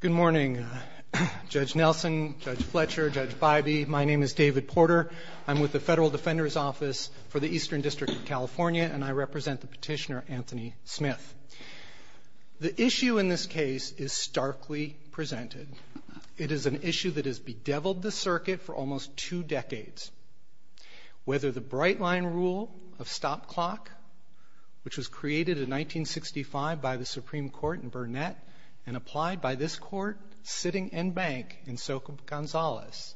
Good morning, Judge Nelson, Judge Fletcher, Judge Bybee, my name is David Porter. I'm with the Federal Defender's Office for the Eastern District of California, and I represent the petitioner, Anthony Smith. The issue in this case is starkly presented. It is an issue that has bedeviled the circuit for almost two decades. Whether the bright-line rule of stop clock, which was created in 1965 by the Supreme Court in Burnett and applied by this Court sitting en banc in Soka Gonzales,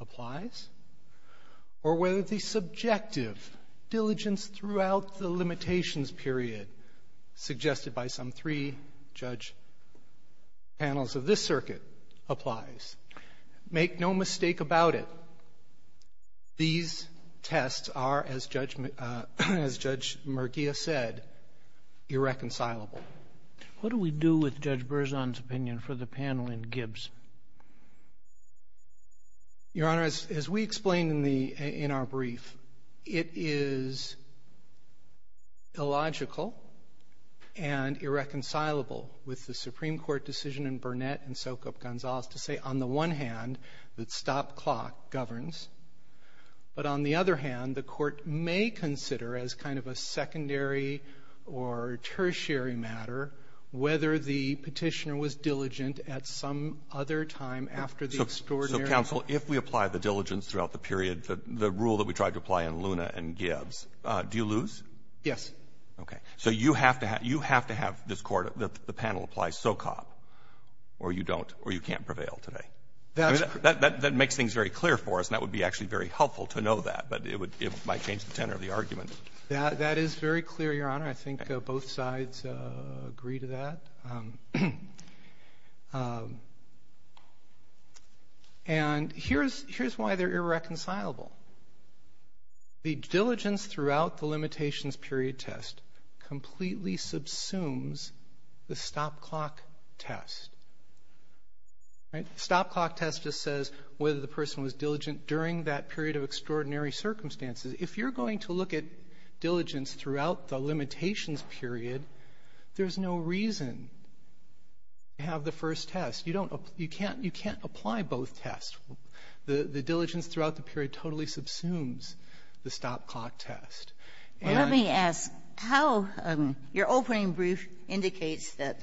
applies, or whether the subjective diligence throughout the limitations period suggested by some three judge panels of this circuit applies, make no mistake about it, these tests are, as Judge Murguia said, irreconcilable. What do we do with Judge Berzon's opinion for the panel in Gibbs? Your Honor, as we explained in the — in our brief, it is illogical and irreconcilable with the Supreme Court decision in Burnett and Soka Gonzales to say, on the one hand, that stop clock governs, but on the other hand, the Court may consider as kind of a secondary or tertiary matter whether the petitioner was diligent at some other time after the extraordinary So counsel, if we apply the diligence throughout the period, the rule that we tried to apply in Luna and Gibbs, do you lose? Yes. So you have to have — you have to have this Court — the panel apply SOCOP, or you don't, or you can't prevail today. That's — I mean, that makes things very clear for us, and that would be actually very helpful to know that, but it would — it might change the tenor of the argument. That is very clear, Your Honor. I think both sides agree to that. And here's — here's why they're irreconcilable. The diligence throughout the limitations period test completely subsumes the stop clock test. Right? The stop clock test just says whether the person was diligent during that period of extraordinary circumstances. If you're going to look at diligence throughout the limitations period, there's no reason to have the first test. You don't — you can't — you can't apply both tests. The — the diligence throughout the period totally subsumes the stop clock test. Well, let me ask, how — your opening brief indicates that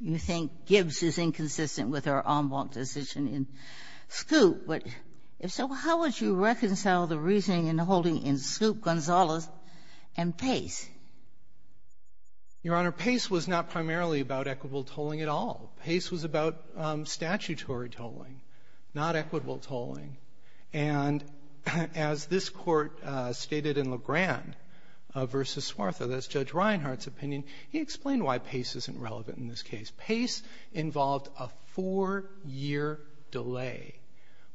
you think Gibbs is inconsistent with our en banc decision in Scoop. But if so, how would you reconcile the reasoning in holding in Scoop, Gonzalez, and Pace? Your Honor, Pace was not primarily about equitable tolling at all. Pace was about statutory tolling, not equitable tolling. And as this Court stated in LeGrand v. Swartha, that's Judge Reinhart's opinion, he explained why Pace isn't relevant in this case. Pace involved a four-year delay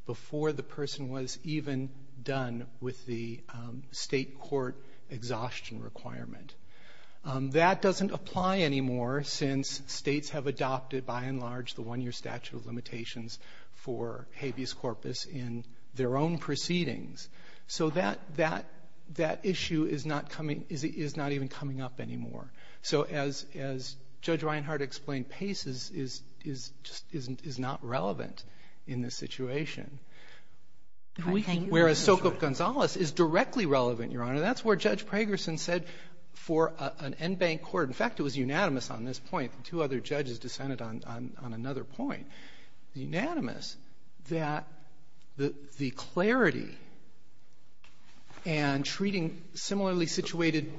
before the person was even done with the State court exhaustion requirement. That doesn't apply anymore since States have adopted, by and large, the one-year statute of limitations for habeas corpus in their own proceedings. So that — that — that issue is not coming — is not even coming up anymore. So as — as Judge Reinhart explained, Pace is — is — just isn't — is not relevant in this situation. Whereas Sokov-Gonzalez is directly relevant, Your Honor. That's where Judge Pragerson said for an en banc court — in fact, it was unanimous on this point. Two other judges dissented on — on another point. It's unanimous that the — the clarity and treating similarly situated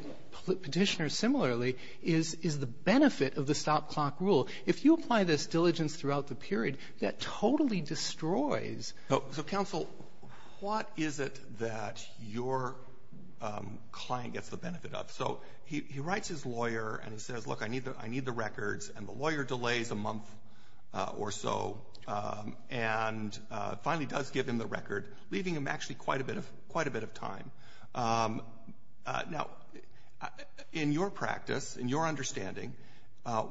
Petitioners similarly is — is the benefit of the stop-clock rule. If you apply this diligence throughout the period, that totally destroys — client gets the benefit of. So he — he writes his lawyer, and he says, look, I need the — I need the records. And the lawyer delays a month or so and finally does give him the record, leaving him actually quite a bit of — quite a bit of time. Now, in your practice, in your understanding,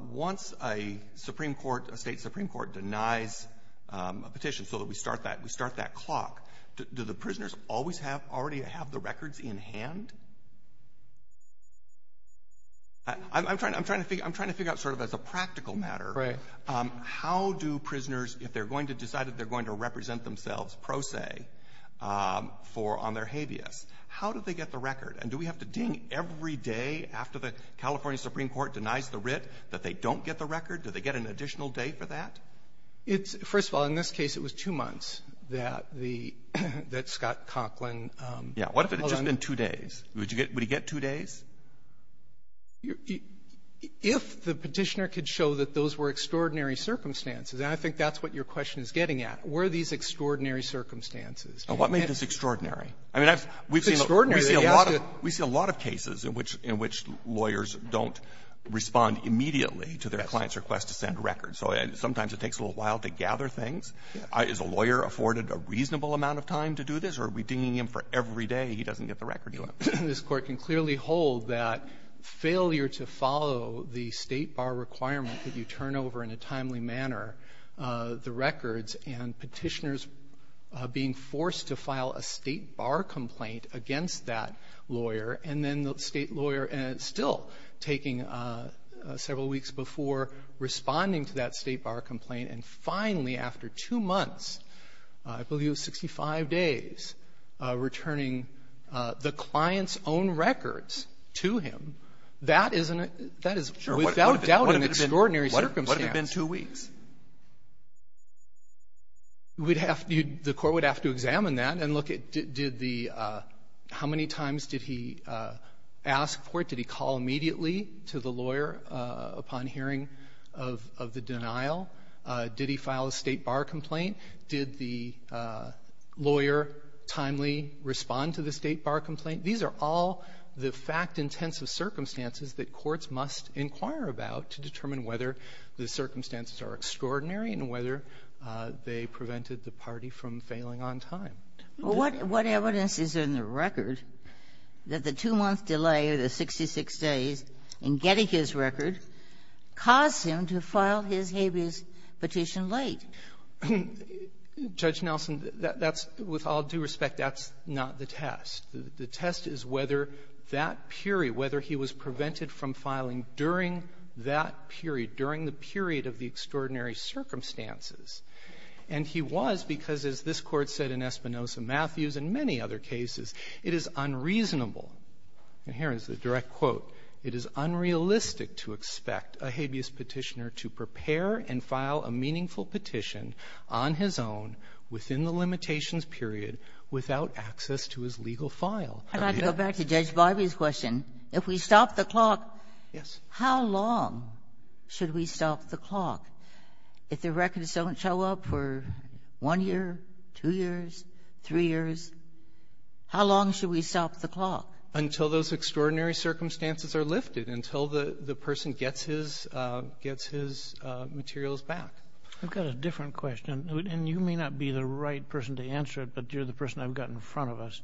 once a Supreme Court — a State Supreme Court denies a petition so that we start that — we start that clock, do the prisoners always have — already have the records in hand? I'm trying to — I'm trying to figure out sort of as a practical matter. Right. How do prisoners, if they're going to decide that they're going to represent themselves pro se for — on their habeas, how do they get the record? And do we have to ding every day after the California Supreme Court denies the writ that they don't get the record? Do they get an additional day for that? It's — first of all, in this case, it was two months that the — that Scott Conklin held on. Yeah. What if it had just been two days? Would you get — would he get two days? If the Petitioner could show that those were extraordinary circumstances, and I think that's what your question is getting at, were these extraordinary circumstances? What made this extraordinary? I mean, I've — we've seen a lot of — It's extraordinary that he has to — We see a lot of cases in which — in which lawyers don't respond immediately to their clients' requests to send records. So sometimes it takes a little while to gather things. Is a lawyer afforded a reasonable amount of time to do this? Or are we dinging him for every day he doesn't get the record? This Court can clearly hold that failure to follow the State bar requirement if you turn over in a timely manner the records and Petitioners being forced to file a State bar complaint against that lawyer, and then the State lawyer still taking several weeks before responding to that State bar complaint, and finally, after two months, I believe 65 days, returning the client's own records to him, that is an — that is without doubt an extraordinary circumstance. What if it had been two weeks? We'd have to — the Court would have to examine that and look at did the — how many times did he ask for it? Did he call immediately to the lawyer upon hearing of — of the denial? Did he file a State bar complaint? Did the lawyer timely respond to the State bar complaint? These are all the fact-intensive circumstances that courts must inquire about to determine whether the circumstances are extraordinary and whether they prevented the party from failing on time. Well, what evidence is in the record that the two-month delay of the 66 days in getting his record caused him to file his habeas petition late? Judge Nelson, that's — with all due respect, that's not the test. The test is whether that period, whether he was prevented from filing during that period, during the period of the extraordinary circumstances. And he was because, as this Court said in Espinoza-Matthews and many other cases, it is unreasonable — and here is the direct quote — it is unrealistic to expect a habeas petitioner to prepare and file a meaningful petition on his own within the limitations period without access to his legal file. I'd like to go back to Judge Barbee's question. If we stop the clock, how long should we stop the clock? If the records don't show up for one year, two years, three years, how long should we stop the clock? Until those extraordinary circumstances are lifted, until the person gets his — gets his materials back. I've got a different question. And you may not be the right person to answer it, but you're the person I've got in front of us.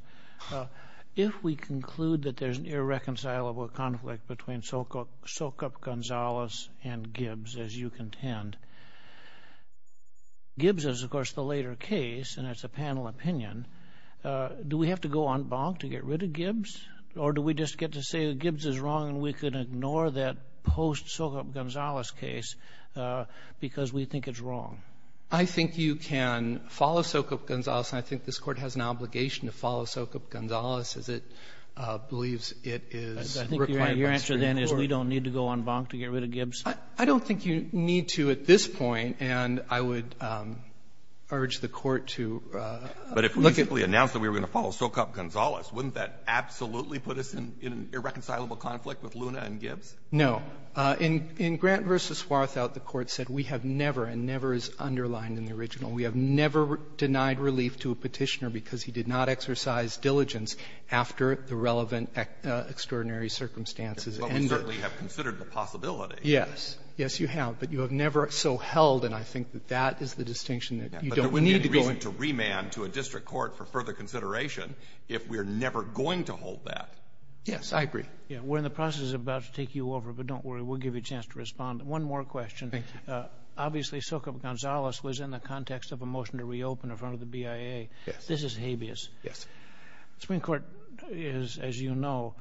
If we conclude that there's an irreconcilable conflict between Sokop — Sokop Gonzales and Gibbs, as you contend, Gibbs is, of course, the later case, and it's a panel opinion, do we have to go en banc to get rid of Gibbs, or do we just get to say that Gibbs is wrong and we could ignore that post-Sokop Gonzales case because we think it's wrong? I think you can follow Sokop Gonzales, and I think this Court has an obligation to follow Sokop Gonzales, as it believes it is required by the Supreme Court. And then is we don't need to go en banc to get rid of Gibbs? I don't think you need to at this point. And I would urge the Court to look at — But if we simply announced that we were going to follow Sokop Gonzales, wouldn't that absolutely put us in an irreconcilable conflict with Luna and Gibbs? No. In Grant v. Swarthout, the Court said we have never, and never is underlined in the original, we have never denied relief to a Petitioner because he did not exercise diligence after the relevant extraordinary circumstances. But we certainly have considered the possibility. Yes. Yes, you have. But you have never so held, and I think that that is the distinction that you don't need to go in. But there would be a reason to remand to a district court for further consideration if we are never going to hold that. Yes. I agree. We're in the process of about to take you over, but don't worry. We'll give you a chance to respond. One more question. Thank you. Obviously, Sokop Gonzales was in the context of a motion to reopen in front of the BIA. Yes. This is habeas. Yes. Supreme Court is, as you know,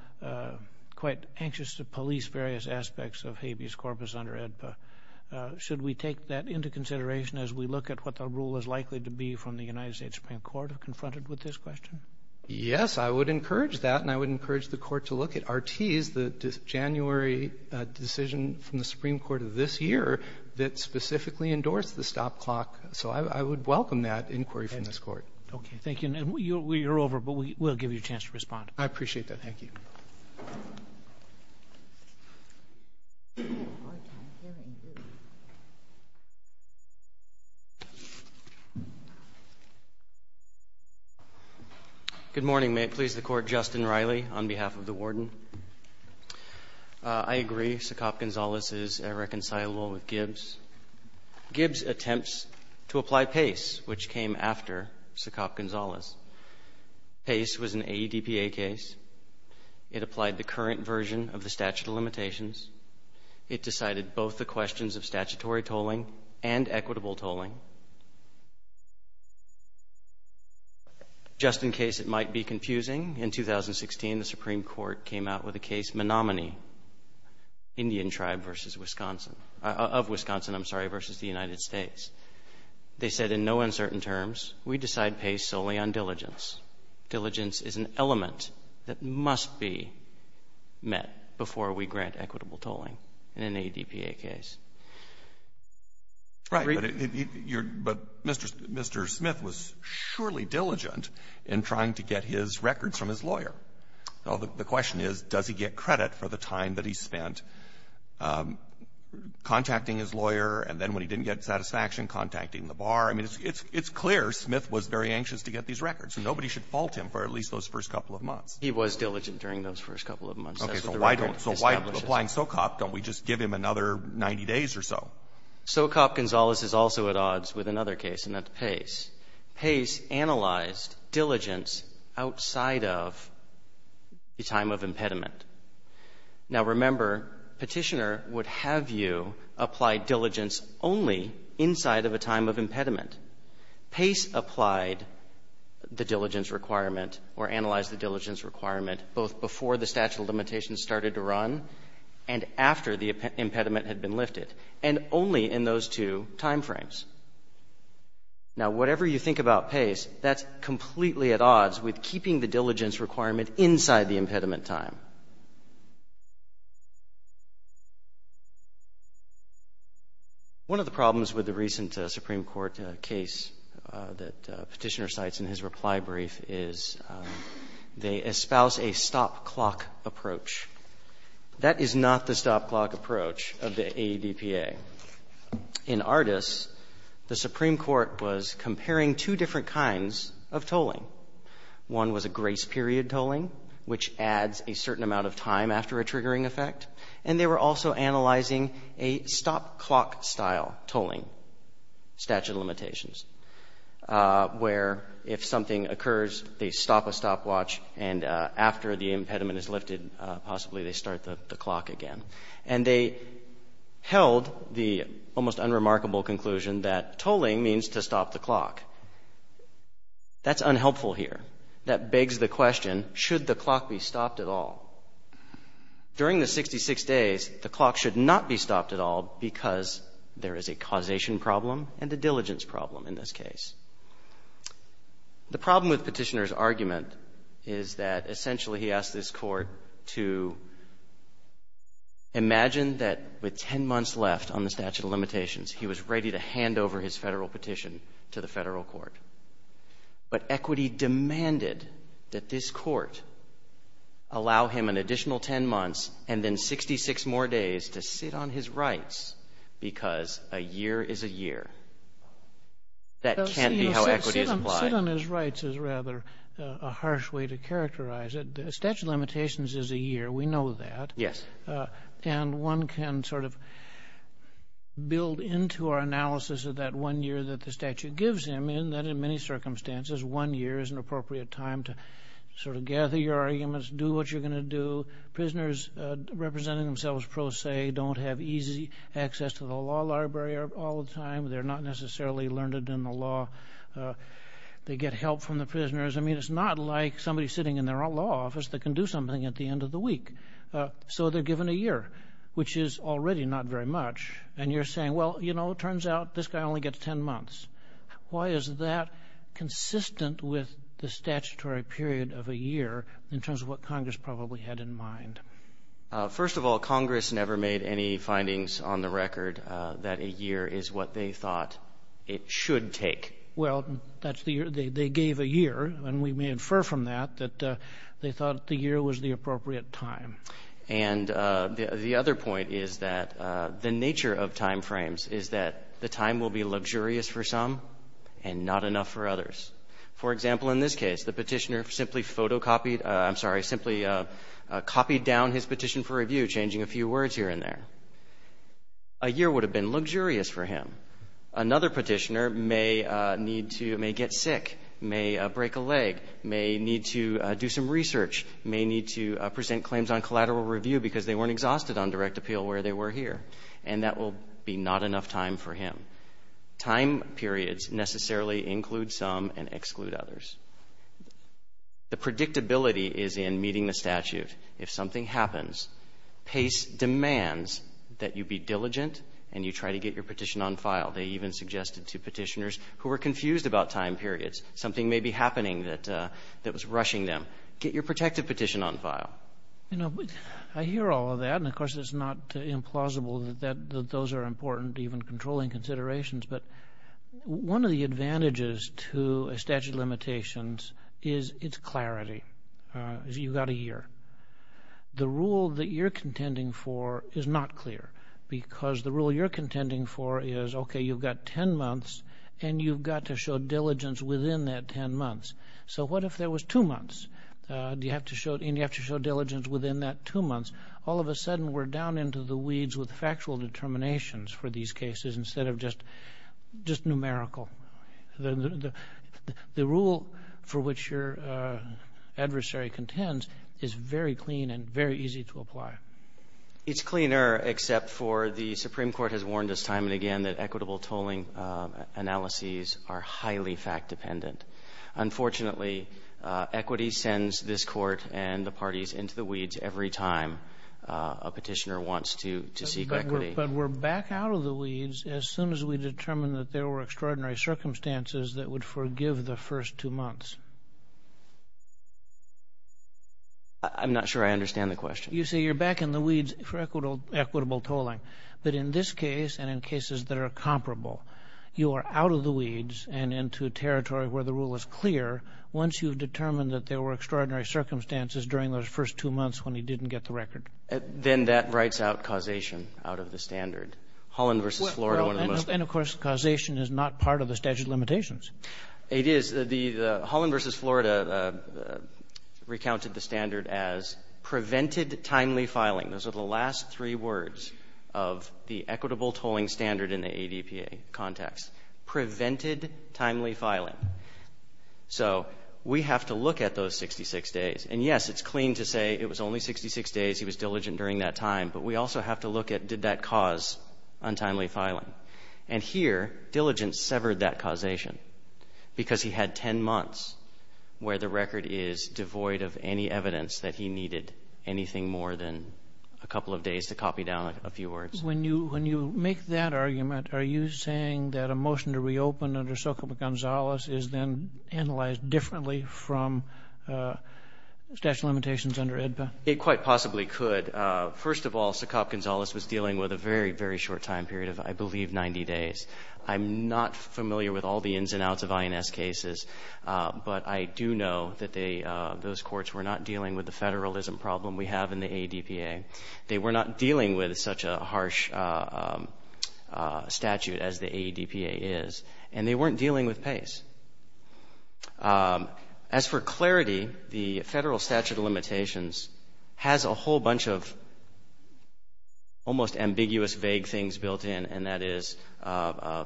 quite anxious to police various aspects of habeas corpus under AEDPA. Should we take that into consideration as we look at what the rule is likely to be from the United States Supreme Court confronted with this question? Yes, I would encourage that, and I would encourage the Court to look at Artees, the January decision from the Supreme Court of this year that specifically endorsed the stop clock. So I would welcome that inquiry from this Court. Okay. Thank you. And you're over, but we'll give you a chance to respond. I appreciate that. Thank you. Good morning. May it please the Court. Justin Riley on behalf of the Warden. I agree. Sokop Gonzales is irreconcilable with Gibbs. Gibbs attempts to apply PACE, which came after Sokop Gonzales. PACE was an AEDPA case. It applied the current version of the statute of limitations. It decided both the questions of statutory tolling and equitable tolling. Just in case it might be confusing, in 2016, the Supreme Court came out with a case of this Menominee Indian tribe versus Wisconsin of Wisconsin, I'm sorry, versus the United States. They said in no uncertain terms, we decide PACE solely on diligence. Diligence is an element that must be met before we grant equitable tolling in an AEDPA case. Right. But Mr. Smith was surely diligent in trying to get his records from his lawyer. Well, the question is, does he get credit for the time that he spent contacting his lawyer, and then when he didn't get satisfaction, contacting the bar? I mean, it's clear Smith was very anxious to get these records. Nobody should fault him for at least those first couple of months. He was diligent during those first couple of months. Okay. So why don't we just give him another 90 days or so? Now, remember, Petitioner would have you apply diligence only inside of a time of impediment. PACE applied the diligence requirement or analyzed the diligence requirement both before the statute of limitations started to run and after the impediment had been lifted, and only in those two timeframes. Now, whatever you think about PACE, that's completely at odds with keeping the diligence requirement inside the impediment time. One of the problems with the recent Supreme Court case that Petitioner cites in his reply brief is they espouse a stop-clock approach. That is not the stop-clock approach of the AEDPA. In Ardis, the Supreme Court was comparing two different kinds of tolling. One was a grace period tolling, which adds a certain amount of time after a triggering effect, and they were also analyzing a stop-clock style tolling statute of limitations, where if something occurs, they stop a stopwatch, and after the impediment is lifted, possibly they start the clock again. And they held the almost unremarkable conclusion that tolling means to stop the clock. That's unhelpful here. That begs the question, should the clock be stopped at all? During the 66 days, the clock should not be stopped at all because there is a causation problem and a diligence problem in this case. The problem with Petitioner's argument is that essentially he asked this Court to stop the clock. Imagine that with 10 months left on the statute of limitations, he was ready to hand over his Federal petition to the Federal court. But equity demanded that this Court allow him an additional 10 months and then 66 more days to sit on his rights because a year is a year. That can't be how equity is applied. Sotomayor, sit on his rights is rather a harsh way to characterize it. The statute of limitations is a year. We know that. Yes. And one can sort of build into our analysis of that one year that the statute gives him in that in many circumstances, one year is an appropriate time to sort of gather your arguments, do what you're going to do. Prisoners representing themselves pro se don't have easy access to the law library all the time. They're not necessarily learned in the law. They get help from the prisoners. I mean, it's not like somebody sitting in their own law office that can do something at the end of the week. So they're given a year, which is already not very much. And you're saying, well, you know, it turns out this guy only gets 10 months. Why is that consistent with the statutory period of a year in terms of what Congress probably had in mind? First of all, Congress never made any findings on the record that a year is what they thought it should take. Well, that's the year they gave a year. And we may infer from that that they thought the year was the appropriate time. And the other point is that the nature of timeframes is that the time will be luxurious for some and not enough for others. For example, in this case, the Petitioner simply photocopied — I'm sorry, simply copied down his petition for review, changing a few words here and there. A year would have been luxurious for him. Another Petitioner may need to — may get sick, may break a leg, may need to do some research, may need to present claims on collateral review because they weren't exhausted on direct appeal where they were here. And that will be not enough time for him. Time periods necessarily include some and exclude others. The predictability is in meeting the statute. If something happens, PACE demands that you be diligent and you try to get your petition on file. They even suggested to Petitioners who were confused about time periods, something may be happening that was rushing them, get your protective petition on file. You know, I hear all of that, and, of course, it's not implausible that those are important even controlling considerations, but one of the advantages to a statute of limitations is its clarity, is you've got a year. The rule that you're contending for is not clear because the rule you're contending for is, OK, you've got 10 months, and you've got to show diligence within that 10 months. So what if there was two months, and you have to show diligence within that two months? All of a sudden, we're down into the weeds with factual determinations for these cases instead of just numerical. The rule for which your adversary contends is very clean and very easy to apply. It's cleaner, except for the Supreme Court has warned us time and again that equitable tolling analyses are highly fact-dependent. Unfortunately, equity sends this Court and the parties into the weeds every time a Petitioner wants to seek equity. But we're back out of the weeds as soon as we determine that there were extraordinary circumstances that would forgive the first two months. I'm not sure I understand the question. You say you're back in the weeds for equitable tolling. But in this case, and in cases that are comparable, you are out of the weeds and into territory where the rule is clear once you've determined that there were extraordinary circumstances during those first two months when he didn't get the record. Then that writes out causation out of the standard. Holland v. Florida, one of the most… And, of course, causation is not part of the statute of limitations. It is. The Holland v. Florida recounted the standard as prevented timely filing. Those are the last three words of the equitable tolling standard in the ADPA context. Prevented timely filing. So we have to look at those 66 days. And, yes, it's clean to say it was only 66 days, he was diligent during that time. But we also have to look at did that cause untimely filing. And here, diligence severed that causation because he had 10 months where the record is devoid of any evidence that he needed anything more than a couple of days to copy down a few words. When you make that argument, are you saying that a motion to reopen under Socopa-Gonzalez is then analyzed differently from statute of limitations under ADPA? It quite possibly could. First of all, Socopa-Gonzalez was dealing with a very, very short time period of, I believe, 90 days. I'm not familiar with all the ins and outs of INS cases, but I do know that they… those courts were not dealing with the Federalism problem we have in the ADPA. They were not dealing with such a harsh statute as the ADPA is. And they weren't dealing with Pace. As for clarity, the Federal statute of limitations has a whole bunch of almost ambiguous, vague things built in, and that is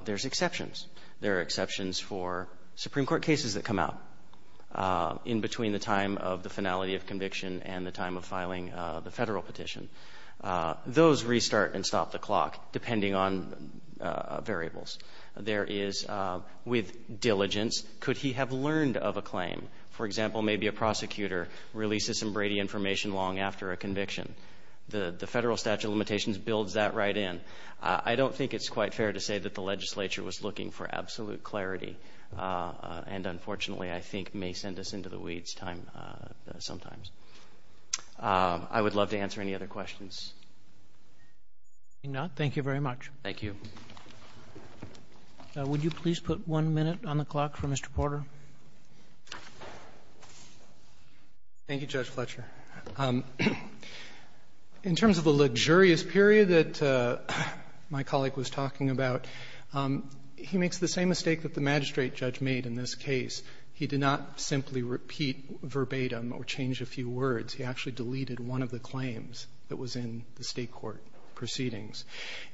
there's exceptions. There are exceptions for Supreme Court cases that come out in between the time of the finality of conviction and the time of filing the Federal petition. Those restart and stop the clock, depending on variables. There is, with diligence, could he have learned of a claim? For example, maybe a prosecutor releases some Brady information long after a conviction. The Federal statute of limitations builds that right in. I don't think it's quite fair to say that the legislature was looking for absolute clarity and, unfortunately, I think may send us into the weeds time… sometimes. I would love to answer any other questions. Robertson, thank you very much. Thank you. Would you please put one minute on the clock for Mr. Porter? Thank you, Judge Fletcher. In terms of a luxurious period that my colleague was talking about, he makes the same mistake that the magistrate judge made in this case. He did not simply repeat verbatim or change a few words. He actually deleted one of the claims that was in the State court proceedings.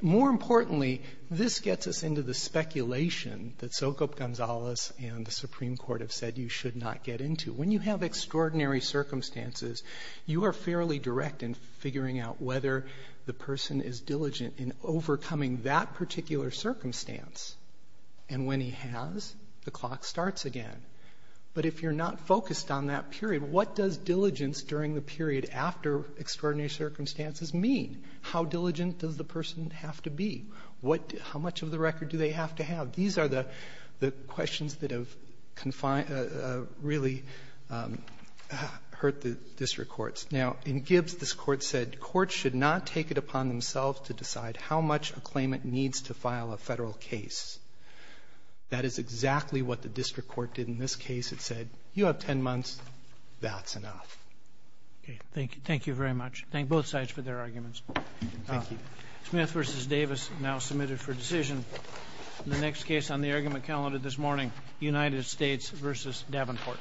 More importantly, this gets us into the speculation that Socop Gonzales and the Supreme Court have said you should not get into. When you have extraordinary circumstances, you are fairly direct in figuring out whether the person is diligent in overcoming that particular circumstance. And when he has, the clock starts again. But if you're not focused on that period, what does diligence during the period after extraordinary circumstances mean? How diligent does the person have to be? What do you… how much of the record do they have to have? These are the questions that have confined… really hurt the district courts. Now, in Gibbs, this Court said courts should not take it upon themselves to decide how much a claimant needs to file a Federal case. That is exactly what the district court did in this case. It said, you have 10 months, that's enough. Thank you. Thank you very much. Thank both sides for their arguments. Thank you. Smith v. Davis now submitted for decision. The next case on the argument calendar this morning, United States v. Davenport.